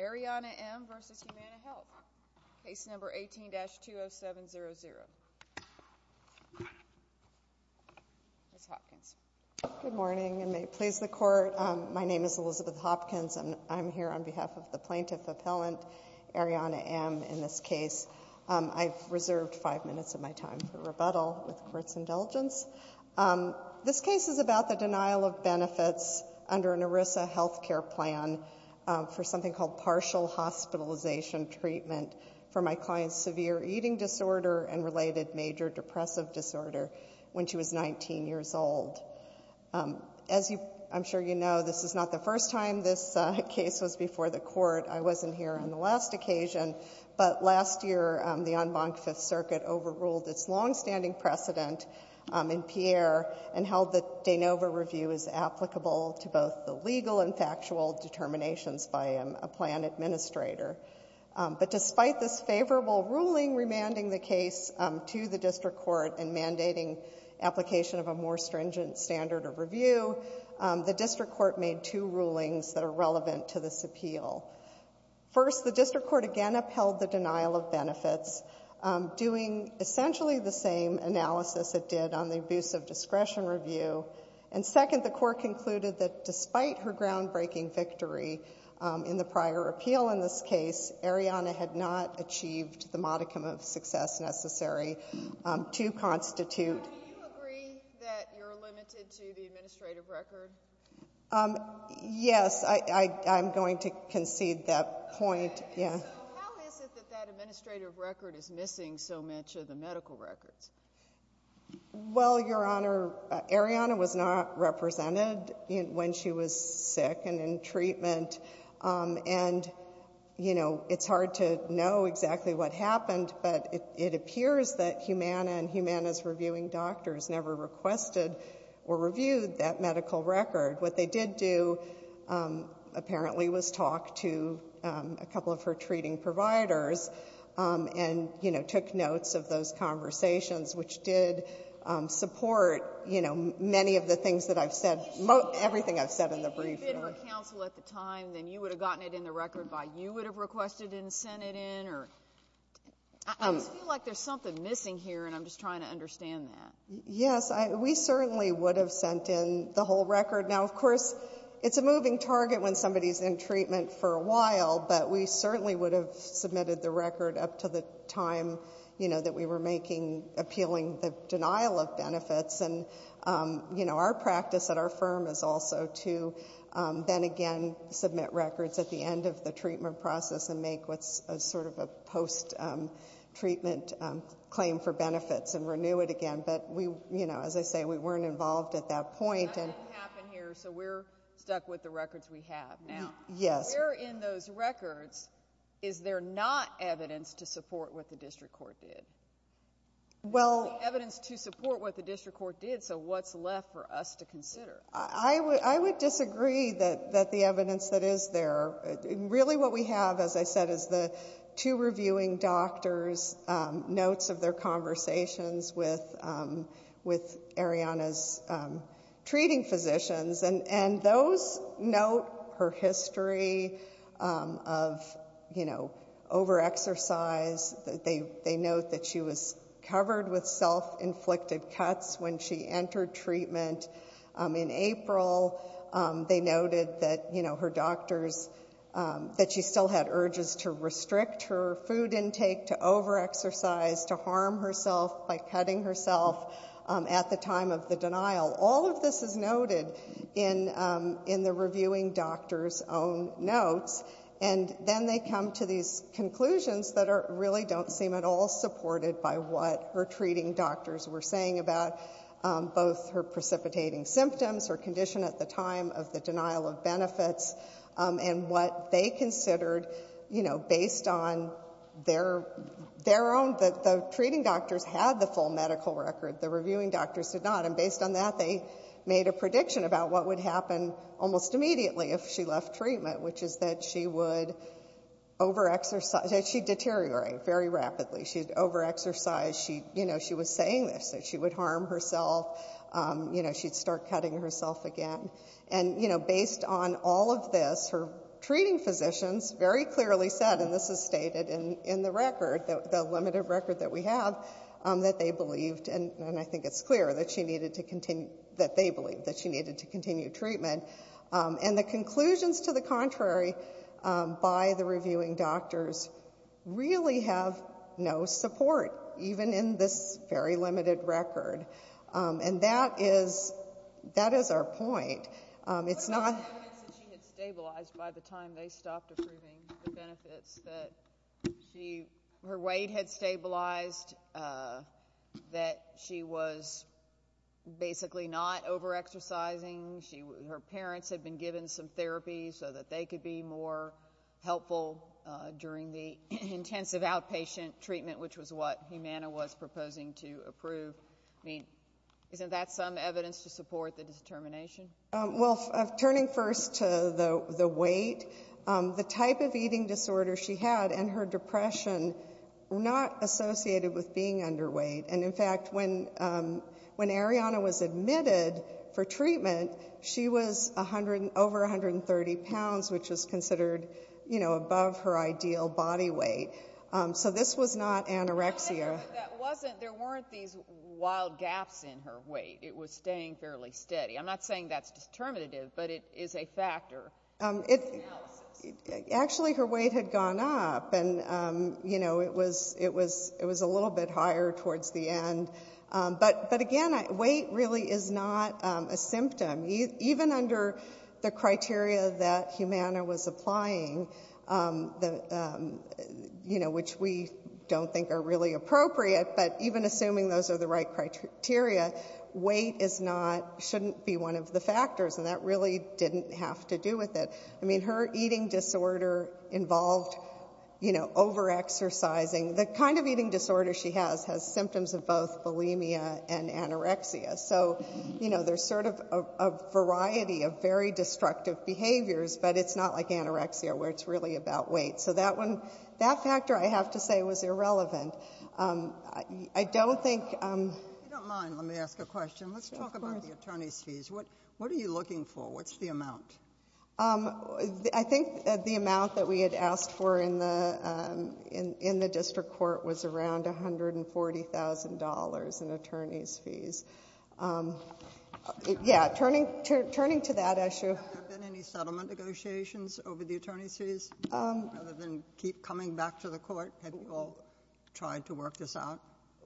Arianna M. v. Humana Health, Case No. 18-20700. Ms. Hopkins. Good morning, and may it please the Court. My name is Elizabeth Hopkins, and I'm here on behalf of the Plaintiff Appellant, Arianna M., in this case. I've reserved five minutes of my time for rebuttal with the Court's indulgence. This case is about the denial of benefits under an ERISA health care plan for something called partial hospitalization treatment for my client's severe eating disorder and related major depressive disorder when she was 19 years old. As I'm sure you know, this is not the first time this case was before the Court. I wasn't here on the last occasion. But last year, the en banc Fifth Circuit overruled its longstanding precedent in Pierre and held that de novo review is applicable to both the legal and factual determinations by a plan administrator. But despite this favorable ruling remanding the case to the district court and mandating application of a more stringent standard of review, the district court made two rulings that are relevant to this appeal. First, the district court again upheld the denial of benefits, doing essentially the same analysis it did on the abuse of discretion review. And second, the court concluded that despite her groundbreaking victory in the prior appeal in this case, Arianna had not achieved the modicum of success necessary to constitute. Do you agree that you're limited to the administrative record? Yes. I'm going to concede that point. Yeah. How is it that that administrative record is missing so much of the medical records? Well, Your Honor, Arianna was not represented when she was sick and in treatment. And, you know, it's hard to know exactly what happened, but it appears that Humana and Humana's reviewing doctors never requested or reviewed that medical record. What they did do apparently was talk to a couple of her treating providers and, you know, took notes of those conversations, which did support, you know, many of the things that I've said, everything I've said in the briefing. If it had been for counsel at the time, then you would have gotten it in the record by you would have requested it and sent it in, or I just feel like there's something missing here, and I'm just trying to understand that. Yes. We certainly would have sent in the whole record. Now, of course, it's a moving target when somebody's in treatment for a while, but we certainly would have submitted the record up to the time, you know, that we were making appealing the denial of benefits. And, you know, our practice at our firm is also to then again submit records at the end of the treatment process and make what's sort of a post-treatment claim for benefits and renew it again. But, you know, as I say, we weren't involved at that point. That didn't happen here, so we're stuck with the records we have now. Yes. Where in those records is there not evidence to support what the district court did? Well. Evidence to support what the district court did, so what's left for us to consider? I would disagree that the evidence that is there, really what we have, as I said, is the two reviewing doctors' notes of their conversations with Ariana's treating physicians, and those note her history of, you know, over-exercise. They note that she was covered with self-inflicted cuts when she entered treatment in April. They noted that, you know, her doctors, that she still had urges to restrict her food intake, to over-exercise, to harm herself by cutting herself at the time of the denial. All of this is noted in the reviewing doctors' own notes, and then they come to these conclusions that really don't seem at all supported by what her treating doctors were saying about both her precipitating symptoms, her condition at the time of the denial of benefits, and what they considered, you know, based on their own, that the treating doctors had the full medical record, the reviewing doctors did not, and based on that they made a prediction about what would happen almost immediately if she left treatment, which is that she would over-exercise. She'd deteriorate very rapidly. She'd over-exercise. You know, she was saying this, that she would harm herself. You know, she'd start cutting herself again. And, you know, based on all of this, her treating physicians very clearly said, and this is stated in the record, the limited record that we have, that they believed, and I think it's clear that they believed that she needed to continue treatment. And the conclusions to the contrary by the reviewing doctors really have no support, even in this very limited record. And that is our point. It's not ñ What about the evidence that she had stabilized by the time they stopped approving the benefits, that her weight had stabilized, that she was basically not over-exercising, her parents had been given some therapy so that they could be more helpful during the intensive outpatient treatment, which was what Humana was proposing to approve? I mean, isn't that some evidence to support the determination? Well, turning first to the weight, the type of eating disorder she had and her depression were not associated with being underweight. And, in fact, when Arianna was admitted for treatment, she was over 130 pounds, which was considered, you know, above her ideal body weight. So this was not anorexia. There weren't these wild gaps in her weight. It was staying fairly steady. I'm not saying that's determinative, but it is a factor. Actually, her weight had gone up, and, you know, it was a little bit higher towards the end. But, again, weight really is not a symptom. Even under the criteria that Humana was applying, you know, which we don't think are really appropriate, but even assuming those are the right criteria, weight shouldn't be one of the factors, and that really didn't have to do with it. I mean, her eating disorder involved, you know, over-exercising. The kind of eating disorder she has has symptoms of both bulimia and anorexia. So, you know, there's sort of a variety of very destructive behaviors, but it's not like anorexia where it's really about weight. So that factor, I have to say, was irrelevant. I don't think... If you don't mind, let me ask a question. Let's talk about the attorney's fees. What are you looking for? What's the amount? I think the amount that we had asked for in the district court was around $140,000 in attorney's fees. Yeah, turning to that issue... Have there been any settlement negotiations over the attorney's fees? Other than coming back to the court, have you all tried to work this out?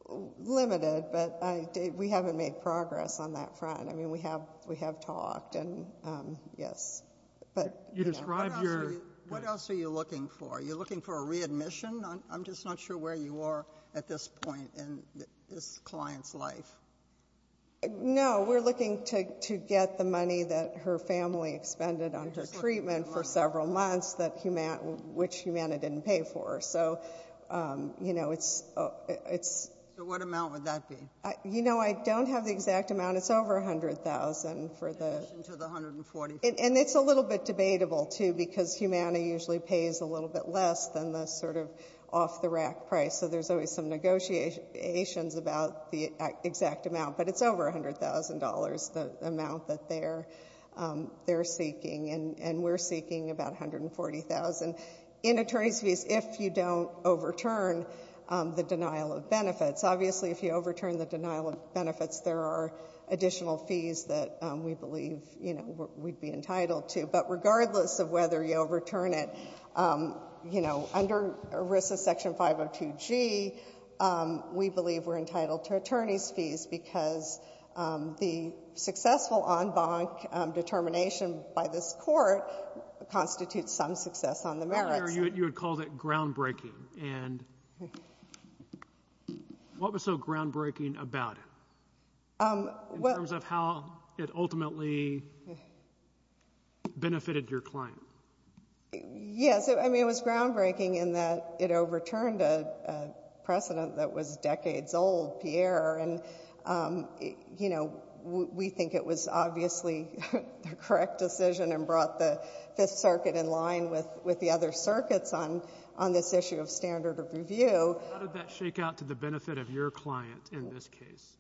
Limited, but we haven't made progress on that front. I mean, we have talked, and yes. You described your... What else are you looking for? Are you looking for a readmission? I'm just not sure where you are at this point in this client's life. No, we're looking to get the money that her family expended on her treatment for several months, which Humana didn't pay for. So, you know, it's... So what amount would that be? You know, I don't have the exact amount. It's over $100,000 for the... In addition to the $140,000. And it's a little bit debatable, too, because Humana usually pays a little bit less than the sort of off-the-rack price. So there's always some negotiations about the exact amount. But it's over $100,000, the amount that they're seeking. And we're seeking about $140,000 in attorney's fees if you don't overturn the denial of benefits. Obviously, if you overturn the denial of benefits, there are additional fees that we believe, you know, we'd be entitled to. But regardless of whether you overturn it, you know, under ERISA Section 502G, we believe we're entitled to attorney's fees because the successful en banc determination by this Court constitutes some success on the merits. Pierre, you had called it groundbreaking. And what was so groundbreaking about it in terms of how it ultimately benefited your client? Yes, I mean, it was groundbreaking in that it overturned a precedent that was decades old, Pierre. And, you know, we think it was obviously the correct decision and brought the Fifth Circuit in line with the other circuits on this issue of standard of review. How did that shake out to the benefit of your client in this case?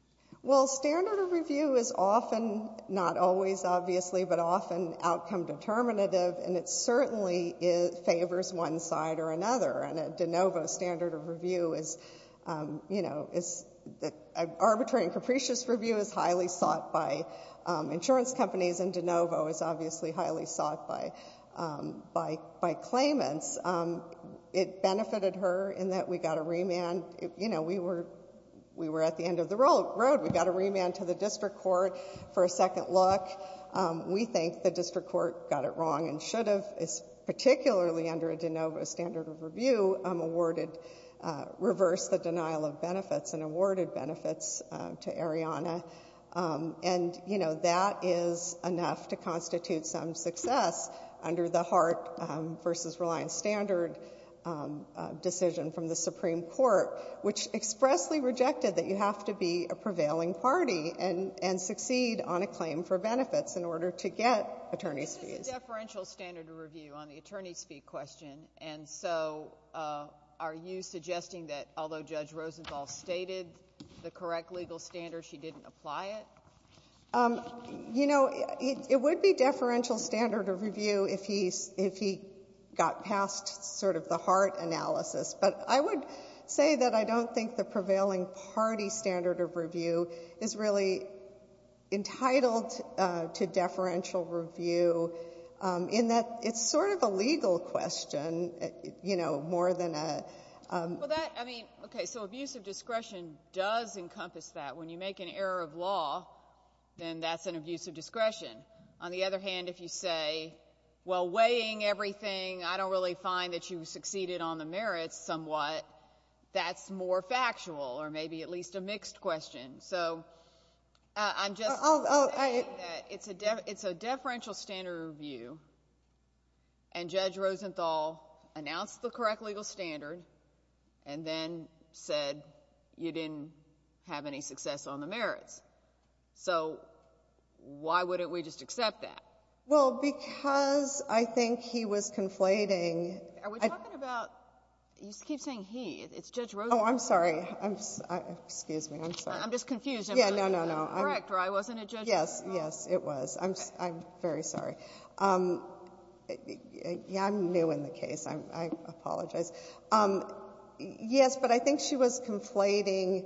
Well, standard of review is often, not always obviously, but often outcome determinative. And it certainly favors one side or another. And a de novo standard of review is, you know, arbitrary and capricious review is highly sought by insurance companies and de novo is obviously highly sought by claimants. It benefited her in that we got a remand. You know, we were at the end of the road. We got a remand to the district court for a second look. We think the district court got it wrong and should have, particularly under a de novo standard of review, awarded reverse the denial of benefits and awarded benefits to Ariana. And, you know, that is enough to constitute some success under the Hart v. Reliance standard decision from the Supreme Court, which expressly rejected that you have to be a prevailing party and succeed on a claim for benefits in order to get attorney's fees. But there is deferential standard of review on the attorney's fee question. And so are you suggesting that although Judge Rosenthal stated the correct legal standard, she didn't apply it? You know, it would be deferential standard of review if he got past sort of the Hart analysis. But I would say that I don't think the prevailing party standard of review is really entitled to deferential review in that it's sort of a legal question, you know, more than a — Well, that, I mean, okay, so abuse of discretion does encompass that. When you make an error of law, then that's an abuse of discretion. On the other hand, if you say, well, weighing everything, I don't really find that you succeeded on the merits somewhat, that's more factual or maybe at least a mixed question. So I'm just saying that it's a deferential standard of review, and Judge Rosenthal announced the correct legal standard and then said you didn't have any success on the merits. So why wouldn't we just accept that? Well, because I think he was conflating. Are we talking about — you keep saying he. It's Judge Rosenthal. Oh, I'm sorry. Excuse me. I'm just confused. Yeah, no, no, no. I'm a director. I wasn't a judge. Yes, yes, it was. I'm very sorry. I'm new in the case. I apologize. Yes, but I think she was conflating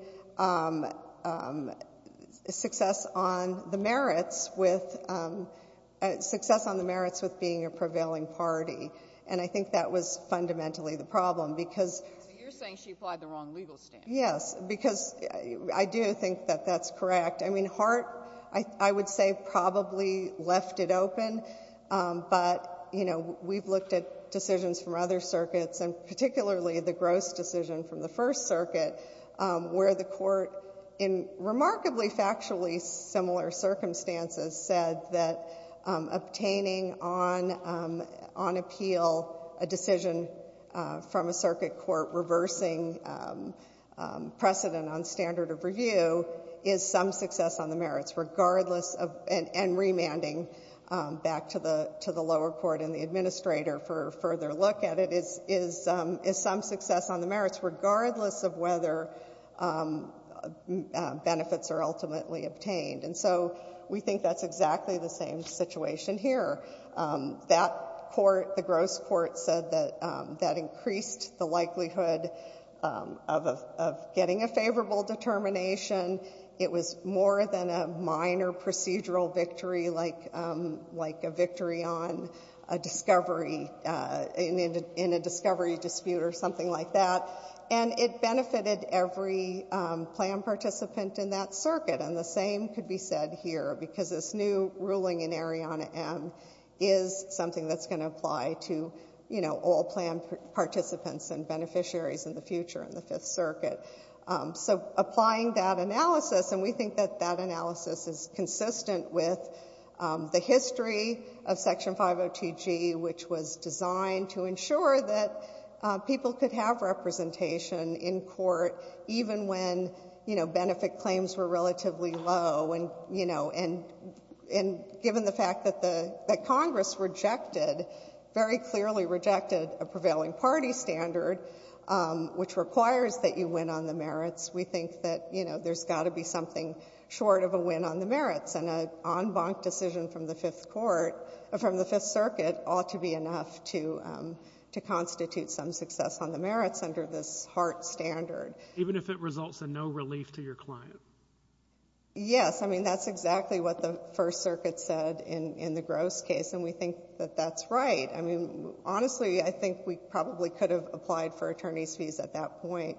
success on the merits with — success on the merits with being a prevailing party. And I think that was fundamentally the problem, because — So you're saying she applied the wrong legal standard. Yes. Because I do think that that's correct. I mean, Hart, I would say, probably left it open. But, you know, we've looked at decisions from other circuits, and particularly the gross decision from the First Circuit, where the court, in remarkably factually similar circumstances, said that obtaining on appeal a decision from a circuit court reversing precedent on standard of review is some success on the merits, regardless of — and remanding back to the lower court and the administrator for further look at it is some success on the merits, regardless of whether benefits are ultimately obtained. And so we think that's exactly the same situation here. That court, the gross court, said that that increased the likelihood of getting a favorable determination. It was more than a minor procedural victory, like a victory on a discovery — in a discovery dispute or something like that. And it benefited every plan participant in that circuit. And the same could be said here, because this new ruling in Arianna M. is something that's going to apply to, you know, all plan participants and beneficiaries in the future in the Fifth Circuit. So applying that analysis — and we think that that analysis is consistent with the history of Section 502G, which was designed to ensure that people could have And, you know, given the fact that Congress rejected — very clearly rejected a prevailing party standard, which requires that you win on the merits, we think that, you know, there's got to be something short of a win on the merits. And an en banc decision from the Fifth Court — from the Fifth Circuit ought to be enough to constitute some success on the merits under this Hart standard. Even if it results in no relief to your client. Yes. I mean, that's exactly what the First Circuit said in the Gross case. And we think that that's right. I mean, honestly, I think we probably could have applied for attorney's fees at that point,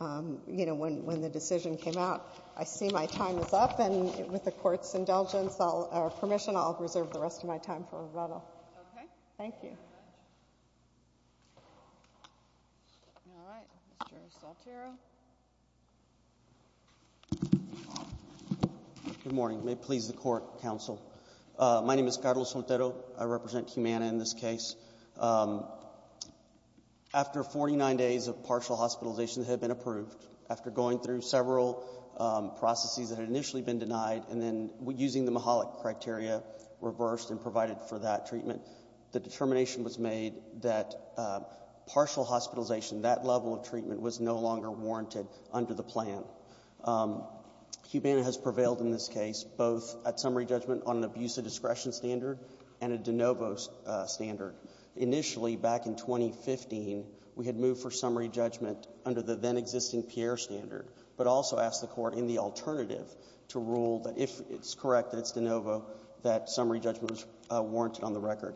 you know, when the decision came out. I see my time is up, and with the Court's indulgence — or permission, I'll reserve the rest of my time for rebuttal. Thank you. All right. Mr. Saltero? Good morning. May it please the Court, Counsel. My name is Carlos Saltero. I represent Humana in this case. After 49 days of partial hospitalization that had been approved, after going through several processes that had initially been denied, and then using the Mihalik criteria reversed and provided for that treatment, the determination of the court's decision was made that partial hospitalization, that level of treatment, was no longer warranted under the plan. Humana has prevailed in this case, both at summary judgment on an abuse of discretion standard and a de novo standard. Initially, back in 2015, we had moved for summary judgment under the then-existing Pierre standard, but also asked the court, in the alternative, to rule that if it's correct that it's de novo, that summary judgment was warranted on the record.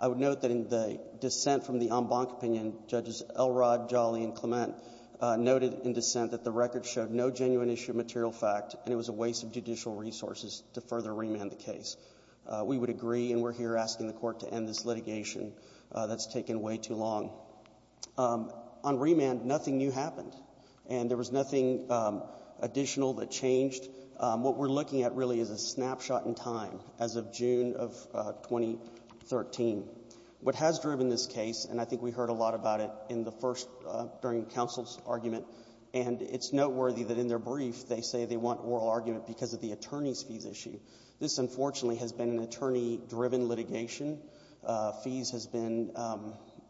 I would note that in the dissent from the en banc opinion, Judges Elrod, Jolly, and Clement noted in dissent that the record showed no genuine issue of material fact, and it was a waste of judicial resources to further remand the case. We would agree, and we're here asking the court to end this litigation. That's taken way too long. On remand, nothing new happened, and there was nothing additional that changed. What we're looking at, really, is a snapshot in time as of June of 2013. What has driven this case, and I think we heard a lot about it in the first, during counsel's argument, and it's noteworthy that in their brief, they say they want oral argument because of the attorney's fees issue. This, unfortunately, has been an attorney-driven litigation. Fees has been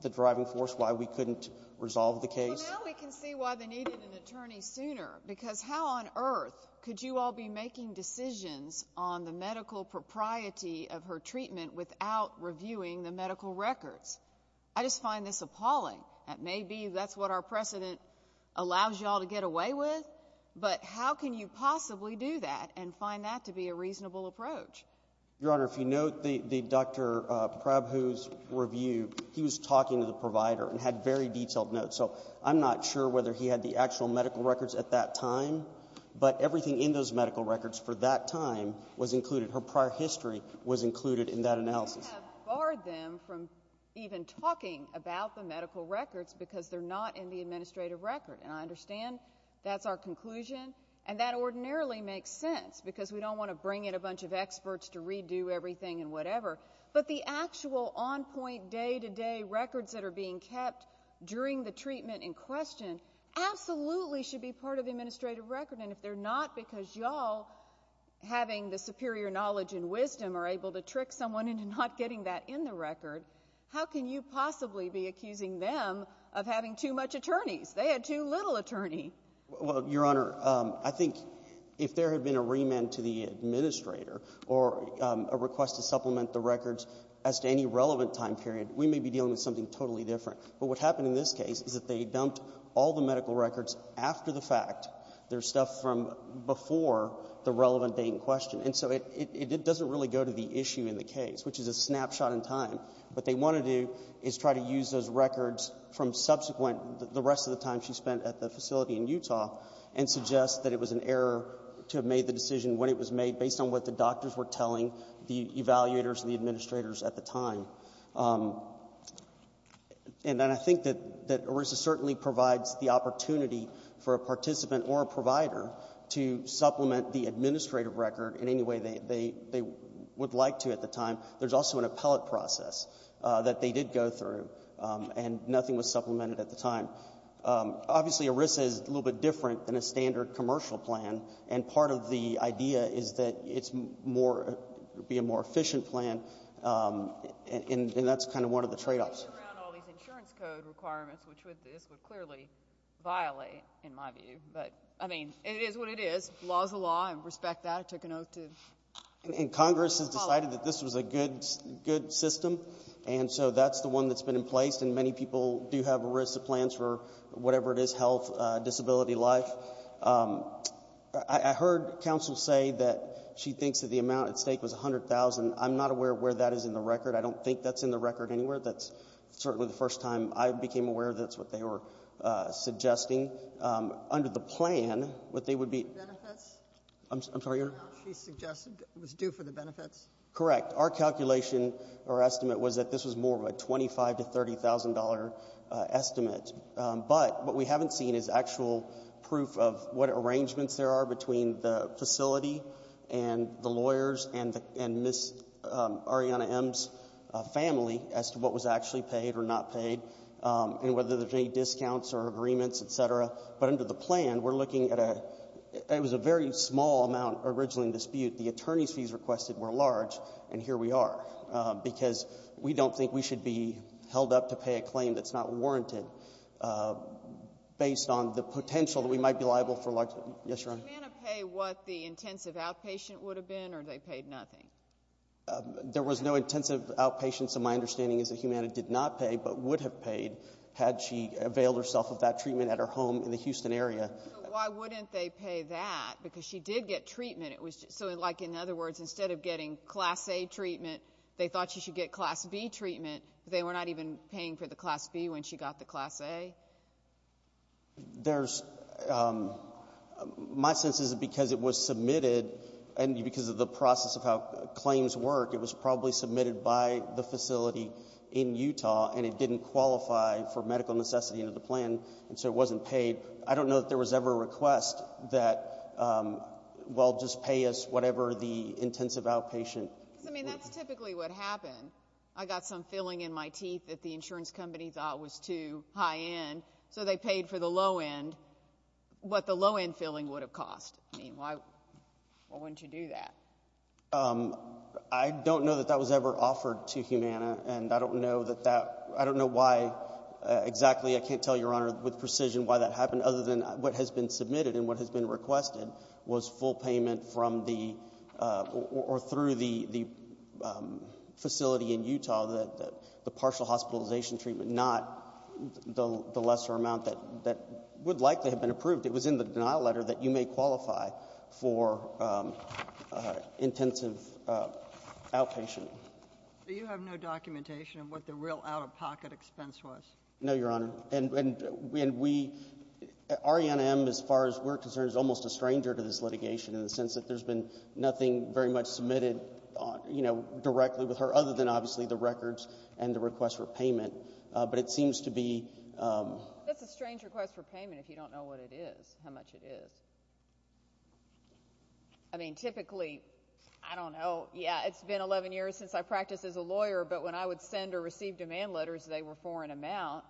the driving force why we couldn't resolve the case. Well, now we can see why they needed an attorney sooner, because how on earth could you all be making decisions on the medical propriety of her treatment without reviewing the medical records? I just find this appalling. That may be that's what our precedent allows you all to get away with, but how can you possibly do that and find that to be a reasonable approach? Your Honor, if you note the Dr. Prabhu's review, he was talking to the provider and had very detailed notes. So I'm not sure whether he had the actual medical records at that time, but everything in those medical records for that time was included. Her prior history was included in that analysis. We can't have barred them from even talking about the medical records because they're not in the administrative record. And I understand that's our conclusion, and that ordinarily makes sense because we don't want to bring in a bunch of experts to redo everything and whatever. But the actual on-point, day-to-day records that are being kept during the treatment in question absolutely should be part of the administrative record. And if they're not because you all, having the superior knowledge and wisdom, are able to trick someone into not getting that in the record, how can you possibly be accusing them of having too much attorneys? They had too little attorney. Well, Your Honor, I think if there had been a remand to the administrator or a request to supplement the records as to any relevant time period, we may be dealing with something totally different. But what happened in this case is that they dumped all the medical records after the fact, their stuff from before the relevant date in question. And so it doesn't really go to the issue in the case, which is a snapshot in time. What they want to do is try to use those records from subsequent, the rest of the time she spent at the facility in Utah, and suggest that it was an error to have made the decision when it was made based on what the doctors were telling the evaluators and the administrators at the time. And then I think that ERISA certainly provides the opportunity for a participant or a provider to supplement the administrative record in any way they would like to at the time. There's also an appellate process that they did go through, and nothing was supplemented at the time. Obviously, ERISA is a little bit different than a standard commercial plan. And part of the idea is that it's more, it would be a more efficient plan, and that's kind of one of the trade-offs. It's around all these insurance code requirements, which this would clearly violate, in my view. But, I mean, it is what it is. Law is the law. I respect that. I took an oath to follow that. And Congress has decided that this was a good system. And so that's the one that's been in place. And many people do have ERISA plans for whatever it is, health, disability, life. I heard counsel say that she thinks that the amount at stake was $100,000. I'm not aware of where that is in the record. I don't think that's in the record anywhere. That's certainly the first time I became aware that's what they were suggesting. Under the plan, what they would be ---- Benefits? I'm sorry, Your Honor? She suggested it was due for the benefits? Correct. Our calculation or estimate was that this was more of a $25,000 to $30,000 estimate. But what we haven't seen is actual proof of what arrangements there are between the facility and the lawyers and Ms. Ariana M's family as to what was actually paid or not paid and whether there's any discounts or agreements, et cetera. But under the plan, we're looking at a ---- it was a very small amount originally in dispute. The attorney's fees requested were large, and here we are, because we don't think we should be held up to pay a claim that's not warranted based on the potential that we might be liable for ---- Yes, Your Honor? Did Humana pay what the intensive outpatient would have been, or they paid nothing? There was no intensive outpatient, so my understanding is that Humana did not pay but would have paid had she availed herself of that treatment at her home in the Houston area. So why wouldn't they pay that? Because she did get treatment. So, like, in other words, instead of getting Class A treatment, they thought she should get Class B treatment, but they were not even paying for the Class B when she got the Class A? There's ---- my sense is because it was submitted and because of the process of how claims work, it was probably submitted by the facility in Utah, and it didn't qualify for medical necessity under the plan, and so it wasn't paid. I don't know that there was ever a request that, well, just pay us whatever the intensive outpatient ---- Because, I mean, that's typically what happened. I got some filling in my teeth that the insurance company thought was too high end, so they paid for the low end what the low end filling would have cost. I mean, why wouldn't you do that? I don't know that that was ever offered to Humana, and I don't know that that ---- I don't know why exactly. I can't tell Your Honor with precision why that happened other than what has been submitted and what has been requested was full payment from the or through the facility in Utah, the partial hospitalization treatment, not the lesser amount that would likely have been approved. It was in the denial letter that you may qualify for intensive outpatient. So you have no documentation of what the real out-of-pocket expense was? No, Your Honor, and we ---- Arianna M., as far as we're concerned, is almost a stranger to this litigation in the sense that there's been nothing very much submitted, you know, directly with her other than obviously the records and the request for payment, but it seems to be ---- That's a strange request for payment if you don't know what it is, how much it is. I mean, typically, I don't know. Yeah, it's been 11 years since I practiced as a lawyer, but when I would send or receive demand letters, they were for an amount.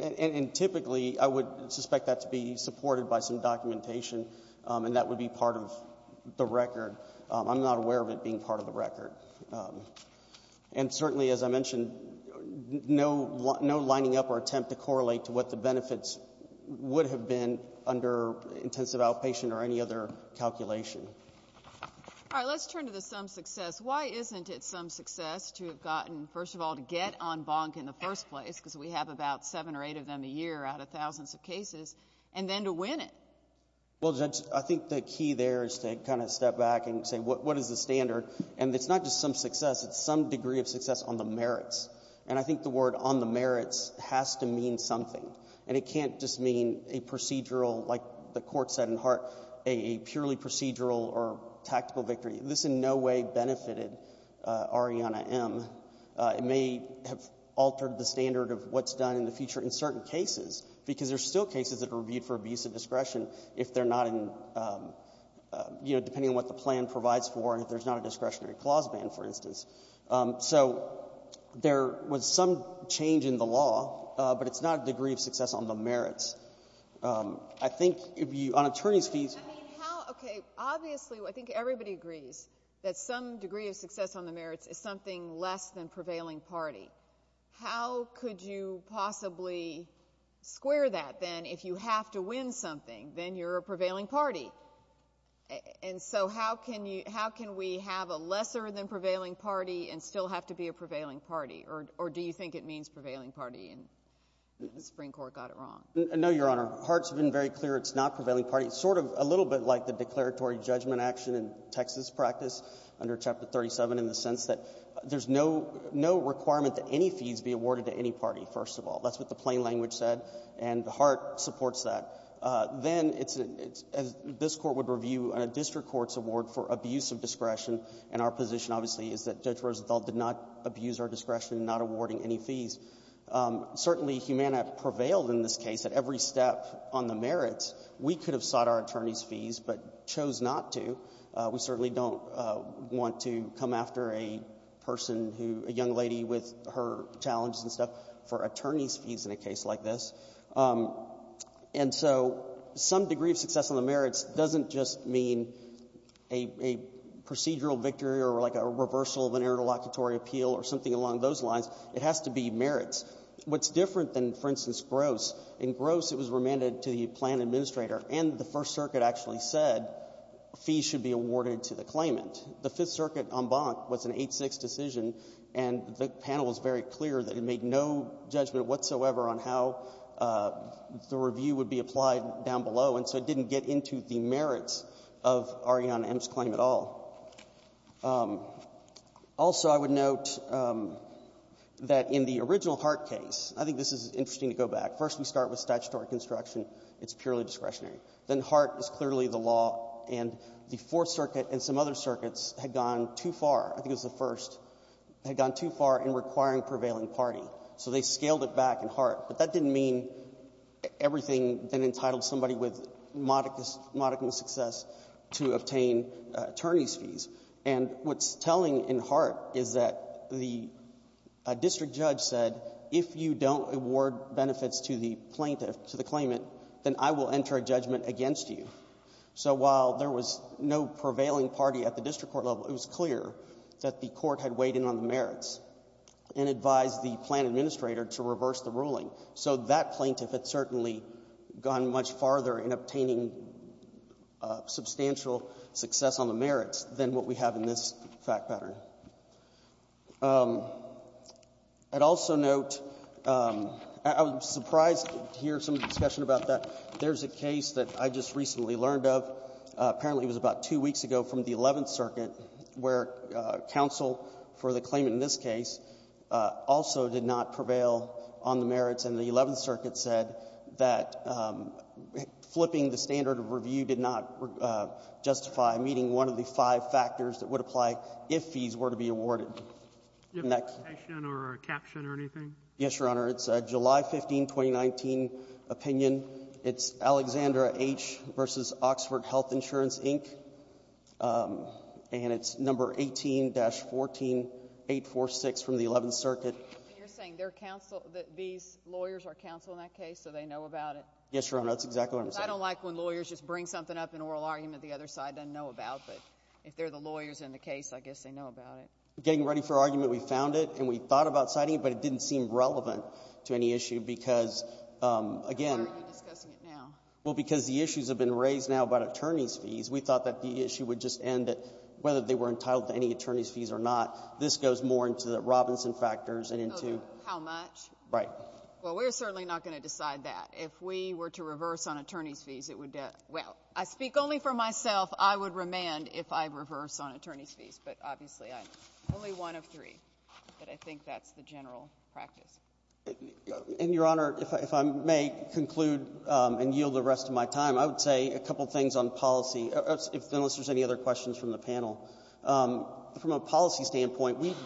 And typically, I would suspect that to be supported by some documentation, and that would be part of the record. I'm not aware of it being part of the record. And certainly, as I mentioned, no lining up or attempt to correlate to what the intensive outpatient or any other calculation. All right. Let's turn to the some success. Why isn't it some success to have gotten, first of all, to get on bonk in the first place, because we have about seven or eight of them a year out of thousands of cases, and then to win it? Well, Judge, I think the key there is to kind of step back and say, what is the standard? And it's not just some success. It's some degree of success on the merits. And I think the word on the merits has to mean something, and it can't just mean a procedural, like the Court said in Hart, a purely procedural or tactical victory. This in no way benefited Ariana M. It may have altered the standard of what's done in the future in certain cases, because there are still cases that are reviewed for abuse of discretion if they're not in, you know, depending on what the plan provides for and if there's not a discretionary clause ban, for instance. So there was some change in the law, but it's not a degree of success on the merits. I think if you — on attorney's fees — I mean, how — okay. Obviously, I think everybody agrees that some degree of success on the merits is something less than prevailing party. How could you possibly square that, then, if you have to win something, then you're a prevailing party? And so how can we have a lesser-than-prevailing party and still have to be a prevailing party? No, Your Honor. Hart's been very clear. It's not prevailing party. It's sort of a little bit like the declaratory judgment action in Texas practice under Chapter 37 in the sense that there's no — no requirement that any fees be awarded to any party, first of all. That's what the plain language said, and Hart supports that. Then it's — this Court would review a district court's award for abuse of discretion, and our position, obviously, is that Judge Roosevelt did not abuse our discretion in not awarding any fees. Certainly, Humana prevailed in this case at every step on the merits. We could have sought our attorneys' fees but chose not to. We certainly don't want to come after a person who — a young lady with her challenges and stuff for attorneys' fees in a case like this. And so some degree of success on the merits doesn't just mean a procedural victory or, like, a reversal of an interlocutory appeal or something along those lines. It has to be merits. What's different than, for instance, Gross, in Gross it was remanded to the plan administrator, and the First Circuit actually said fees should be awarded to the claimant. The Fifth Circuit en banc was an 8-6 decision, and the panel was very clear that it made no judgment whatsoever on how the review would be applied down below, and so it didn't get into the merits of Arianna M's claim at all. Also, I would note that in the original Hart case, I think this is interesting to go back. First, we start with statutory construction. It's purely discretionary. Then Hart is clearly the law, and the Fourth Circuit and some other circuits had gone too far. I think it was the First. They had gone too far in requiring prevailing party. So they scaled it back in Hart. But that didn't mean everything then entitled somebody with modicum of success to obtain attorney's fees. And what's telling in Hart is that the district judge said if you don't award benefits to the plaintiff, to the claimant, then I will enter a judgment against you. So while there was no prevailing party at the district court level, it was clear that the court had weighed in on the merits and advised the plan administrator to reverse the ruling. So that plaintiff had certainly gone much farther in obtaining substantial success on the merits than what we have in this fact pattern. I'd also note, I was surprised to hear some discussion about that. There's a case that I just recently learned of. Apparently, it was about two weeks ago from the Eleventh Circuit where counsel for the claimant in this case also did not prevail on the merits. And the Eleventh Circuit said that flipping the standard of review did not justify meeting one of the five factors that would apply if fees were to be awarded. Next. The next question or caption or anything. Yes, Your Honor. It's a July 15, 2019, opinion. It's Alexandra H. v. Oxford Health Insurance, Inc., and it's number 18-14. 846 from the Eleventh Circuit. And you're saying their counsel, these lawyers are counsel in that case, so they know about it? Yes, Your Honor. That's exactly what I'm saying. Because I don't like when lawyers just bring something up in oral argument the other side doesn't know about, but if they're the lawyers in the case, I guess they know about it. Getting ready for argument, we found it and we thought about citing it, but it didn't seem relevant to any issue because, again. Why are you discussing it now? Well, because the issues have been raised now about attorney's fees. We thought that the issue would just end at whether they were entitled to any attorney's fees or not. This goes more into the Robinson factors and into the ---- How much? Right. Well, we're certainly not going to decide that. If we were to reverse on attorney's fees, it would debt. Well, I speak only for myself. I would remand if I reverse on attorney's fees. But obviously, I'm only one of three. But I think that's the general practice. And, Your Honor, if I may conclude and yield the rest of my time, I would say a couple of things on policy, unless there's any other questions from the panel. From a policy standpoint, we ----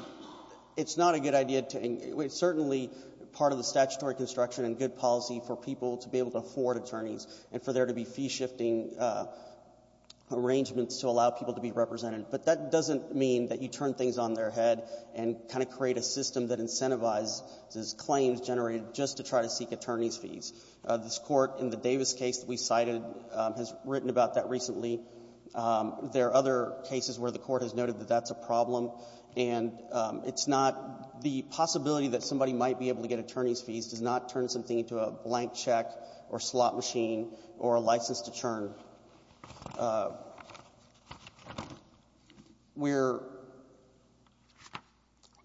it's not a good idea to ---- certainly part of the statutory construction and good policy for people to be able to afford attorneys and for there to be fee-shifting arrangements to allow people to be represented. But that doesn't mean that you turn things on their head and kind of create a system that incentivizes these claims generated just to try to seek attorney's fees. This Court in the Davis case that we cited has written about that recently. There are other cases where the Court has noted that that's a problem, and it's not the possibility that somebody might be able to get attorney's fees does not turn something into a blank check or slot machine or a license to churn. We're ----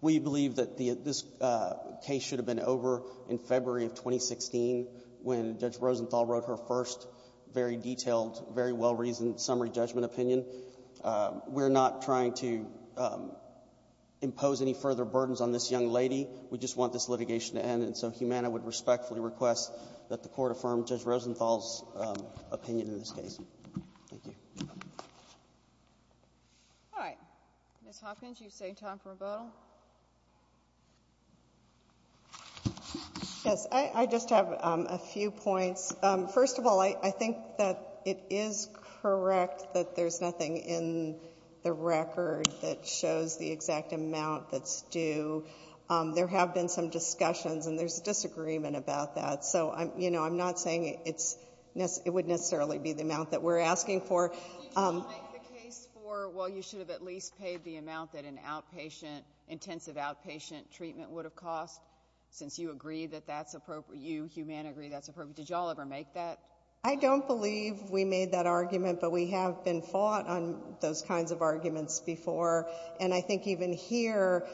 we believe that the ---- this case should have been over in February of 2016 when Judge Rosenthal wrote her first very detailed, very well-reasoned summary judgment opinion. We're not trying to impose any further burdens on this young lady. We just want this litigation to end. And so Humana would respectfully request that the Court affirm Judge Rosenthal's opinion in this case. Thank you. All right. Ms. Hopkins, you save time for rebuttal. Yes. I just have a few points. First of all, I think that it is correct that there's nothing in the record that shows the exact amount that's due. There have been some discussions, and there's a disagreement about that. So, you know, I'm not saying it's ---- it would necessarily be the amount that we're asking for. Did you make the case for, well, you should have at least paid the amount that an outpatient, intensive outpatient treatment would have cost, since you agree that that's appropriate? You, Humana, agree that's appropriate? Did you all ever make that? I don't believe we made that argument, but we have been fought on those kinds of arguments before. And I think even here,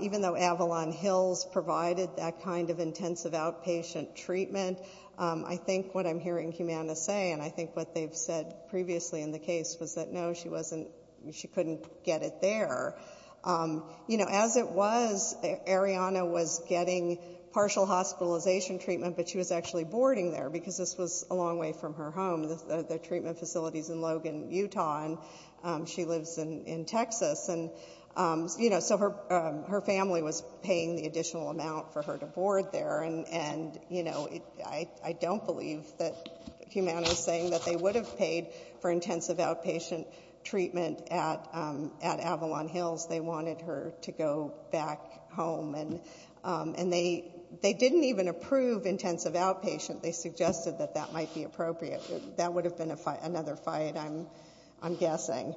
even though Avalon Hills provided that kind of intensive outpatient treatment, I think what I'm hearing Humana say, and I think what they've said previously in the case, was that, no, she wasn't ---- she couldn't get it there. You know, as it was, Arianna was getting partial hospitalization treatment, but she was actually boarding there, because this was a long way from her home, the treatment facilities in Logan, Utah, and she lives in Texas. And, you know, so her family was paying the additional amount for her to board there. And, you know, I don't believe that Humana is saying that they would have paid for intensive outpatient treatment at Avalon Hills. They wanted her to go back home. And they didn't even approve intensive outpatient. They suggested that that might be appropriate. That would have been another fight, I'm guessing.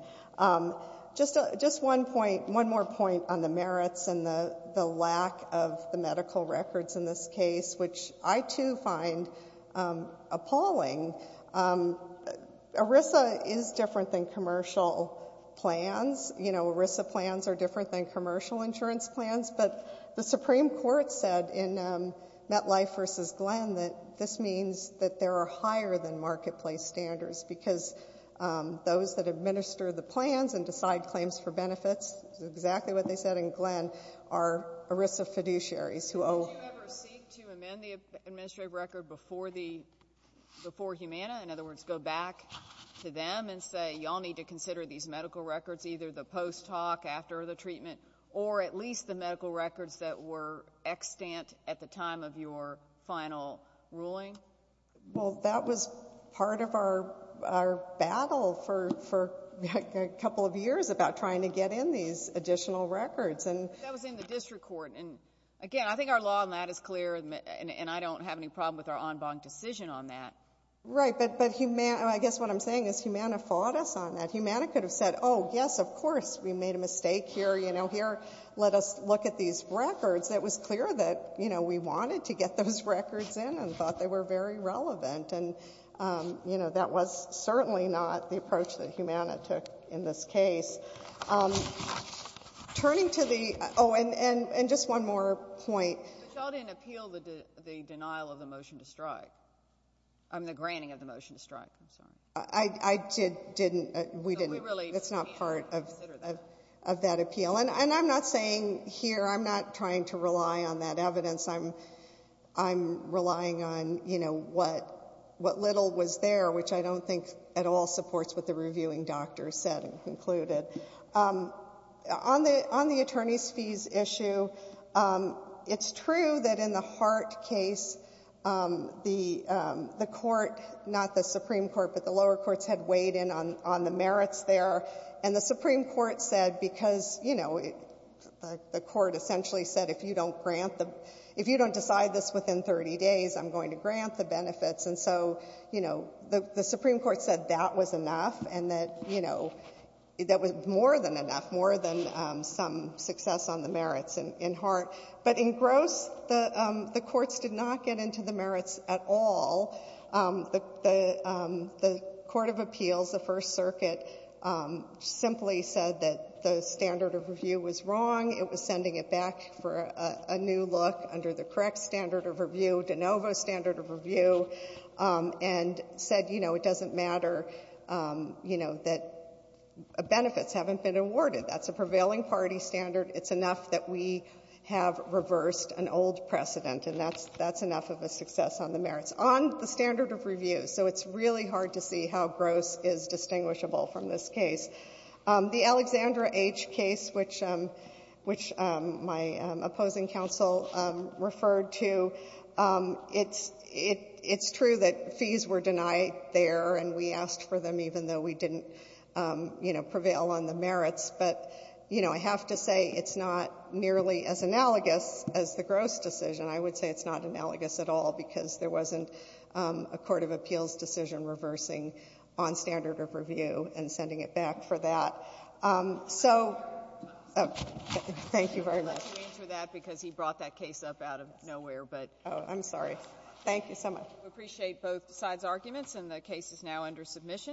Just one point, one more point on the merits and the lack of the medical records in this case, which I, too, find appalling. ERISA is different than commercial plans. You know, ERISA plans are different than commercial insurance plans. But the Supreme Court said in MetLife v. Glenn that this means that there are higher-than-marketplace standards, because those that administer the plans and decide claims for benefits, exactly what they said in Glenn, are ERISA fiduciaries who owe ---- Would you ever seek to amend the administrative record before the ---- before Humana? In other words, go back to them and say, you all need to consider these medical records, either the post-talk, after the treatment, or at least the medical records that were extant at the time of your final ruling? Well, that was part of our battle for a couple of years about trying to get in these additional records. But that was in the district court. And, again, I think our law on that is clear, and I don't have any problem with our en banc decision on that. Right. But I guess what I'm saying is Humana fought us on that. Humana could have said, oh, yes, of course, we made a mistake here. You know, here, let us look at these records. It was clear that, you know, we wanted to get those records in and thought they were very relevant. And, you know, that was certainly not the approach that Humana took in this case. Turning to the ---- oh, and just one more point. But you all didn't appeal the denial of the motion to strike. I mean, the granting of the motion to strike. I'm sorry. I didn't. We didn't. It's not part of that appeal. And I'm not saying here, I'm not trying to rely on that evidence. I'm relying on, you know, what little was there, which I don't think at all supports what the reviewing doctor said and concluded. On the attorney's fees issue, it's true that in the Hart case, the court, not the lower courts, had weighed in on the merits there. And the Supreme Court said because, you know, the court essentially said if you don't grant the ---- if you don't decide this within 30 days, I'm going to grant the benefits. And so, you know, the Supreme Court said that was enough and that, you know, that was more than enough, more than some success on the merits in Hart. But in Gross, the courts did not get into the merits at all. The court of appeals, the First Circuit, simply said that the standard of review was wrong. It was sending it back for a new look under the correct standard of review, de novo standard of review, and said, you know, it doesn't matter, you know, that benefits haven't been awarded. That's a prevailing party standard. It's enough that we have reversed an old precedent, and that's enough of a success on the merits. On the standard of review, so it's really hard to see how Gross is distinguishable from this case. The Alexandra H. case, which my opposing counsel referred to, it's true that fees were denied there and we asked for them even though we didn't, you know, prevail on the merits. But, you know, I have to say it's not nearly as analogous as the Gross decision. I would say it's not analogous at all because there wasn't a court of appeals decision reversing on standard of review and sending it back for that. So thank you very much. I'm glad you answered that because he brought that case up out of nowhere, but. Oh, I'm sorry. Thank you so much. We appreciate both sides' arguments, and the case is now under submission.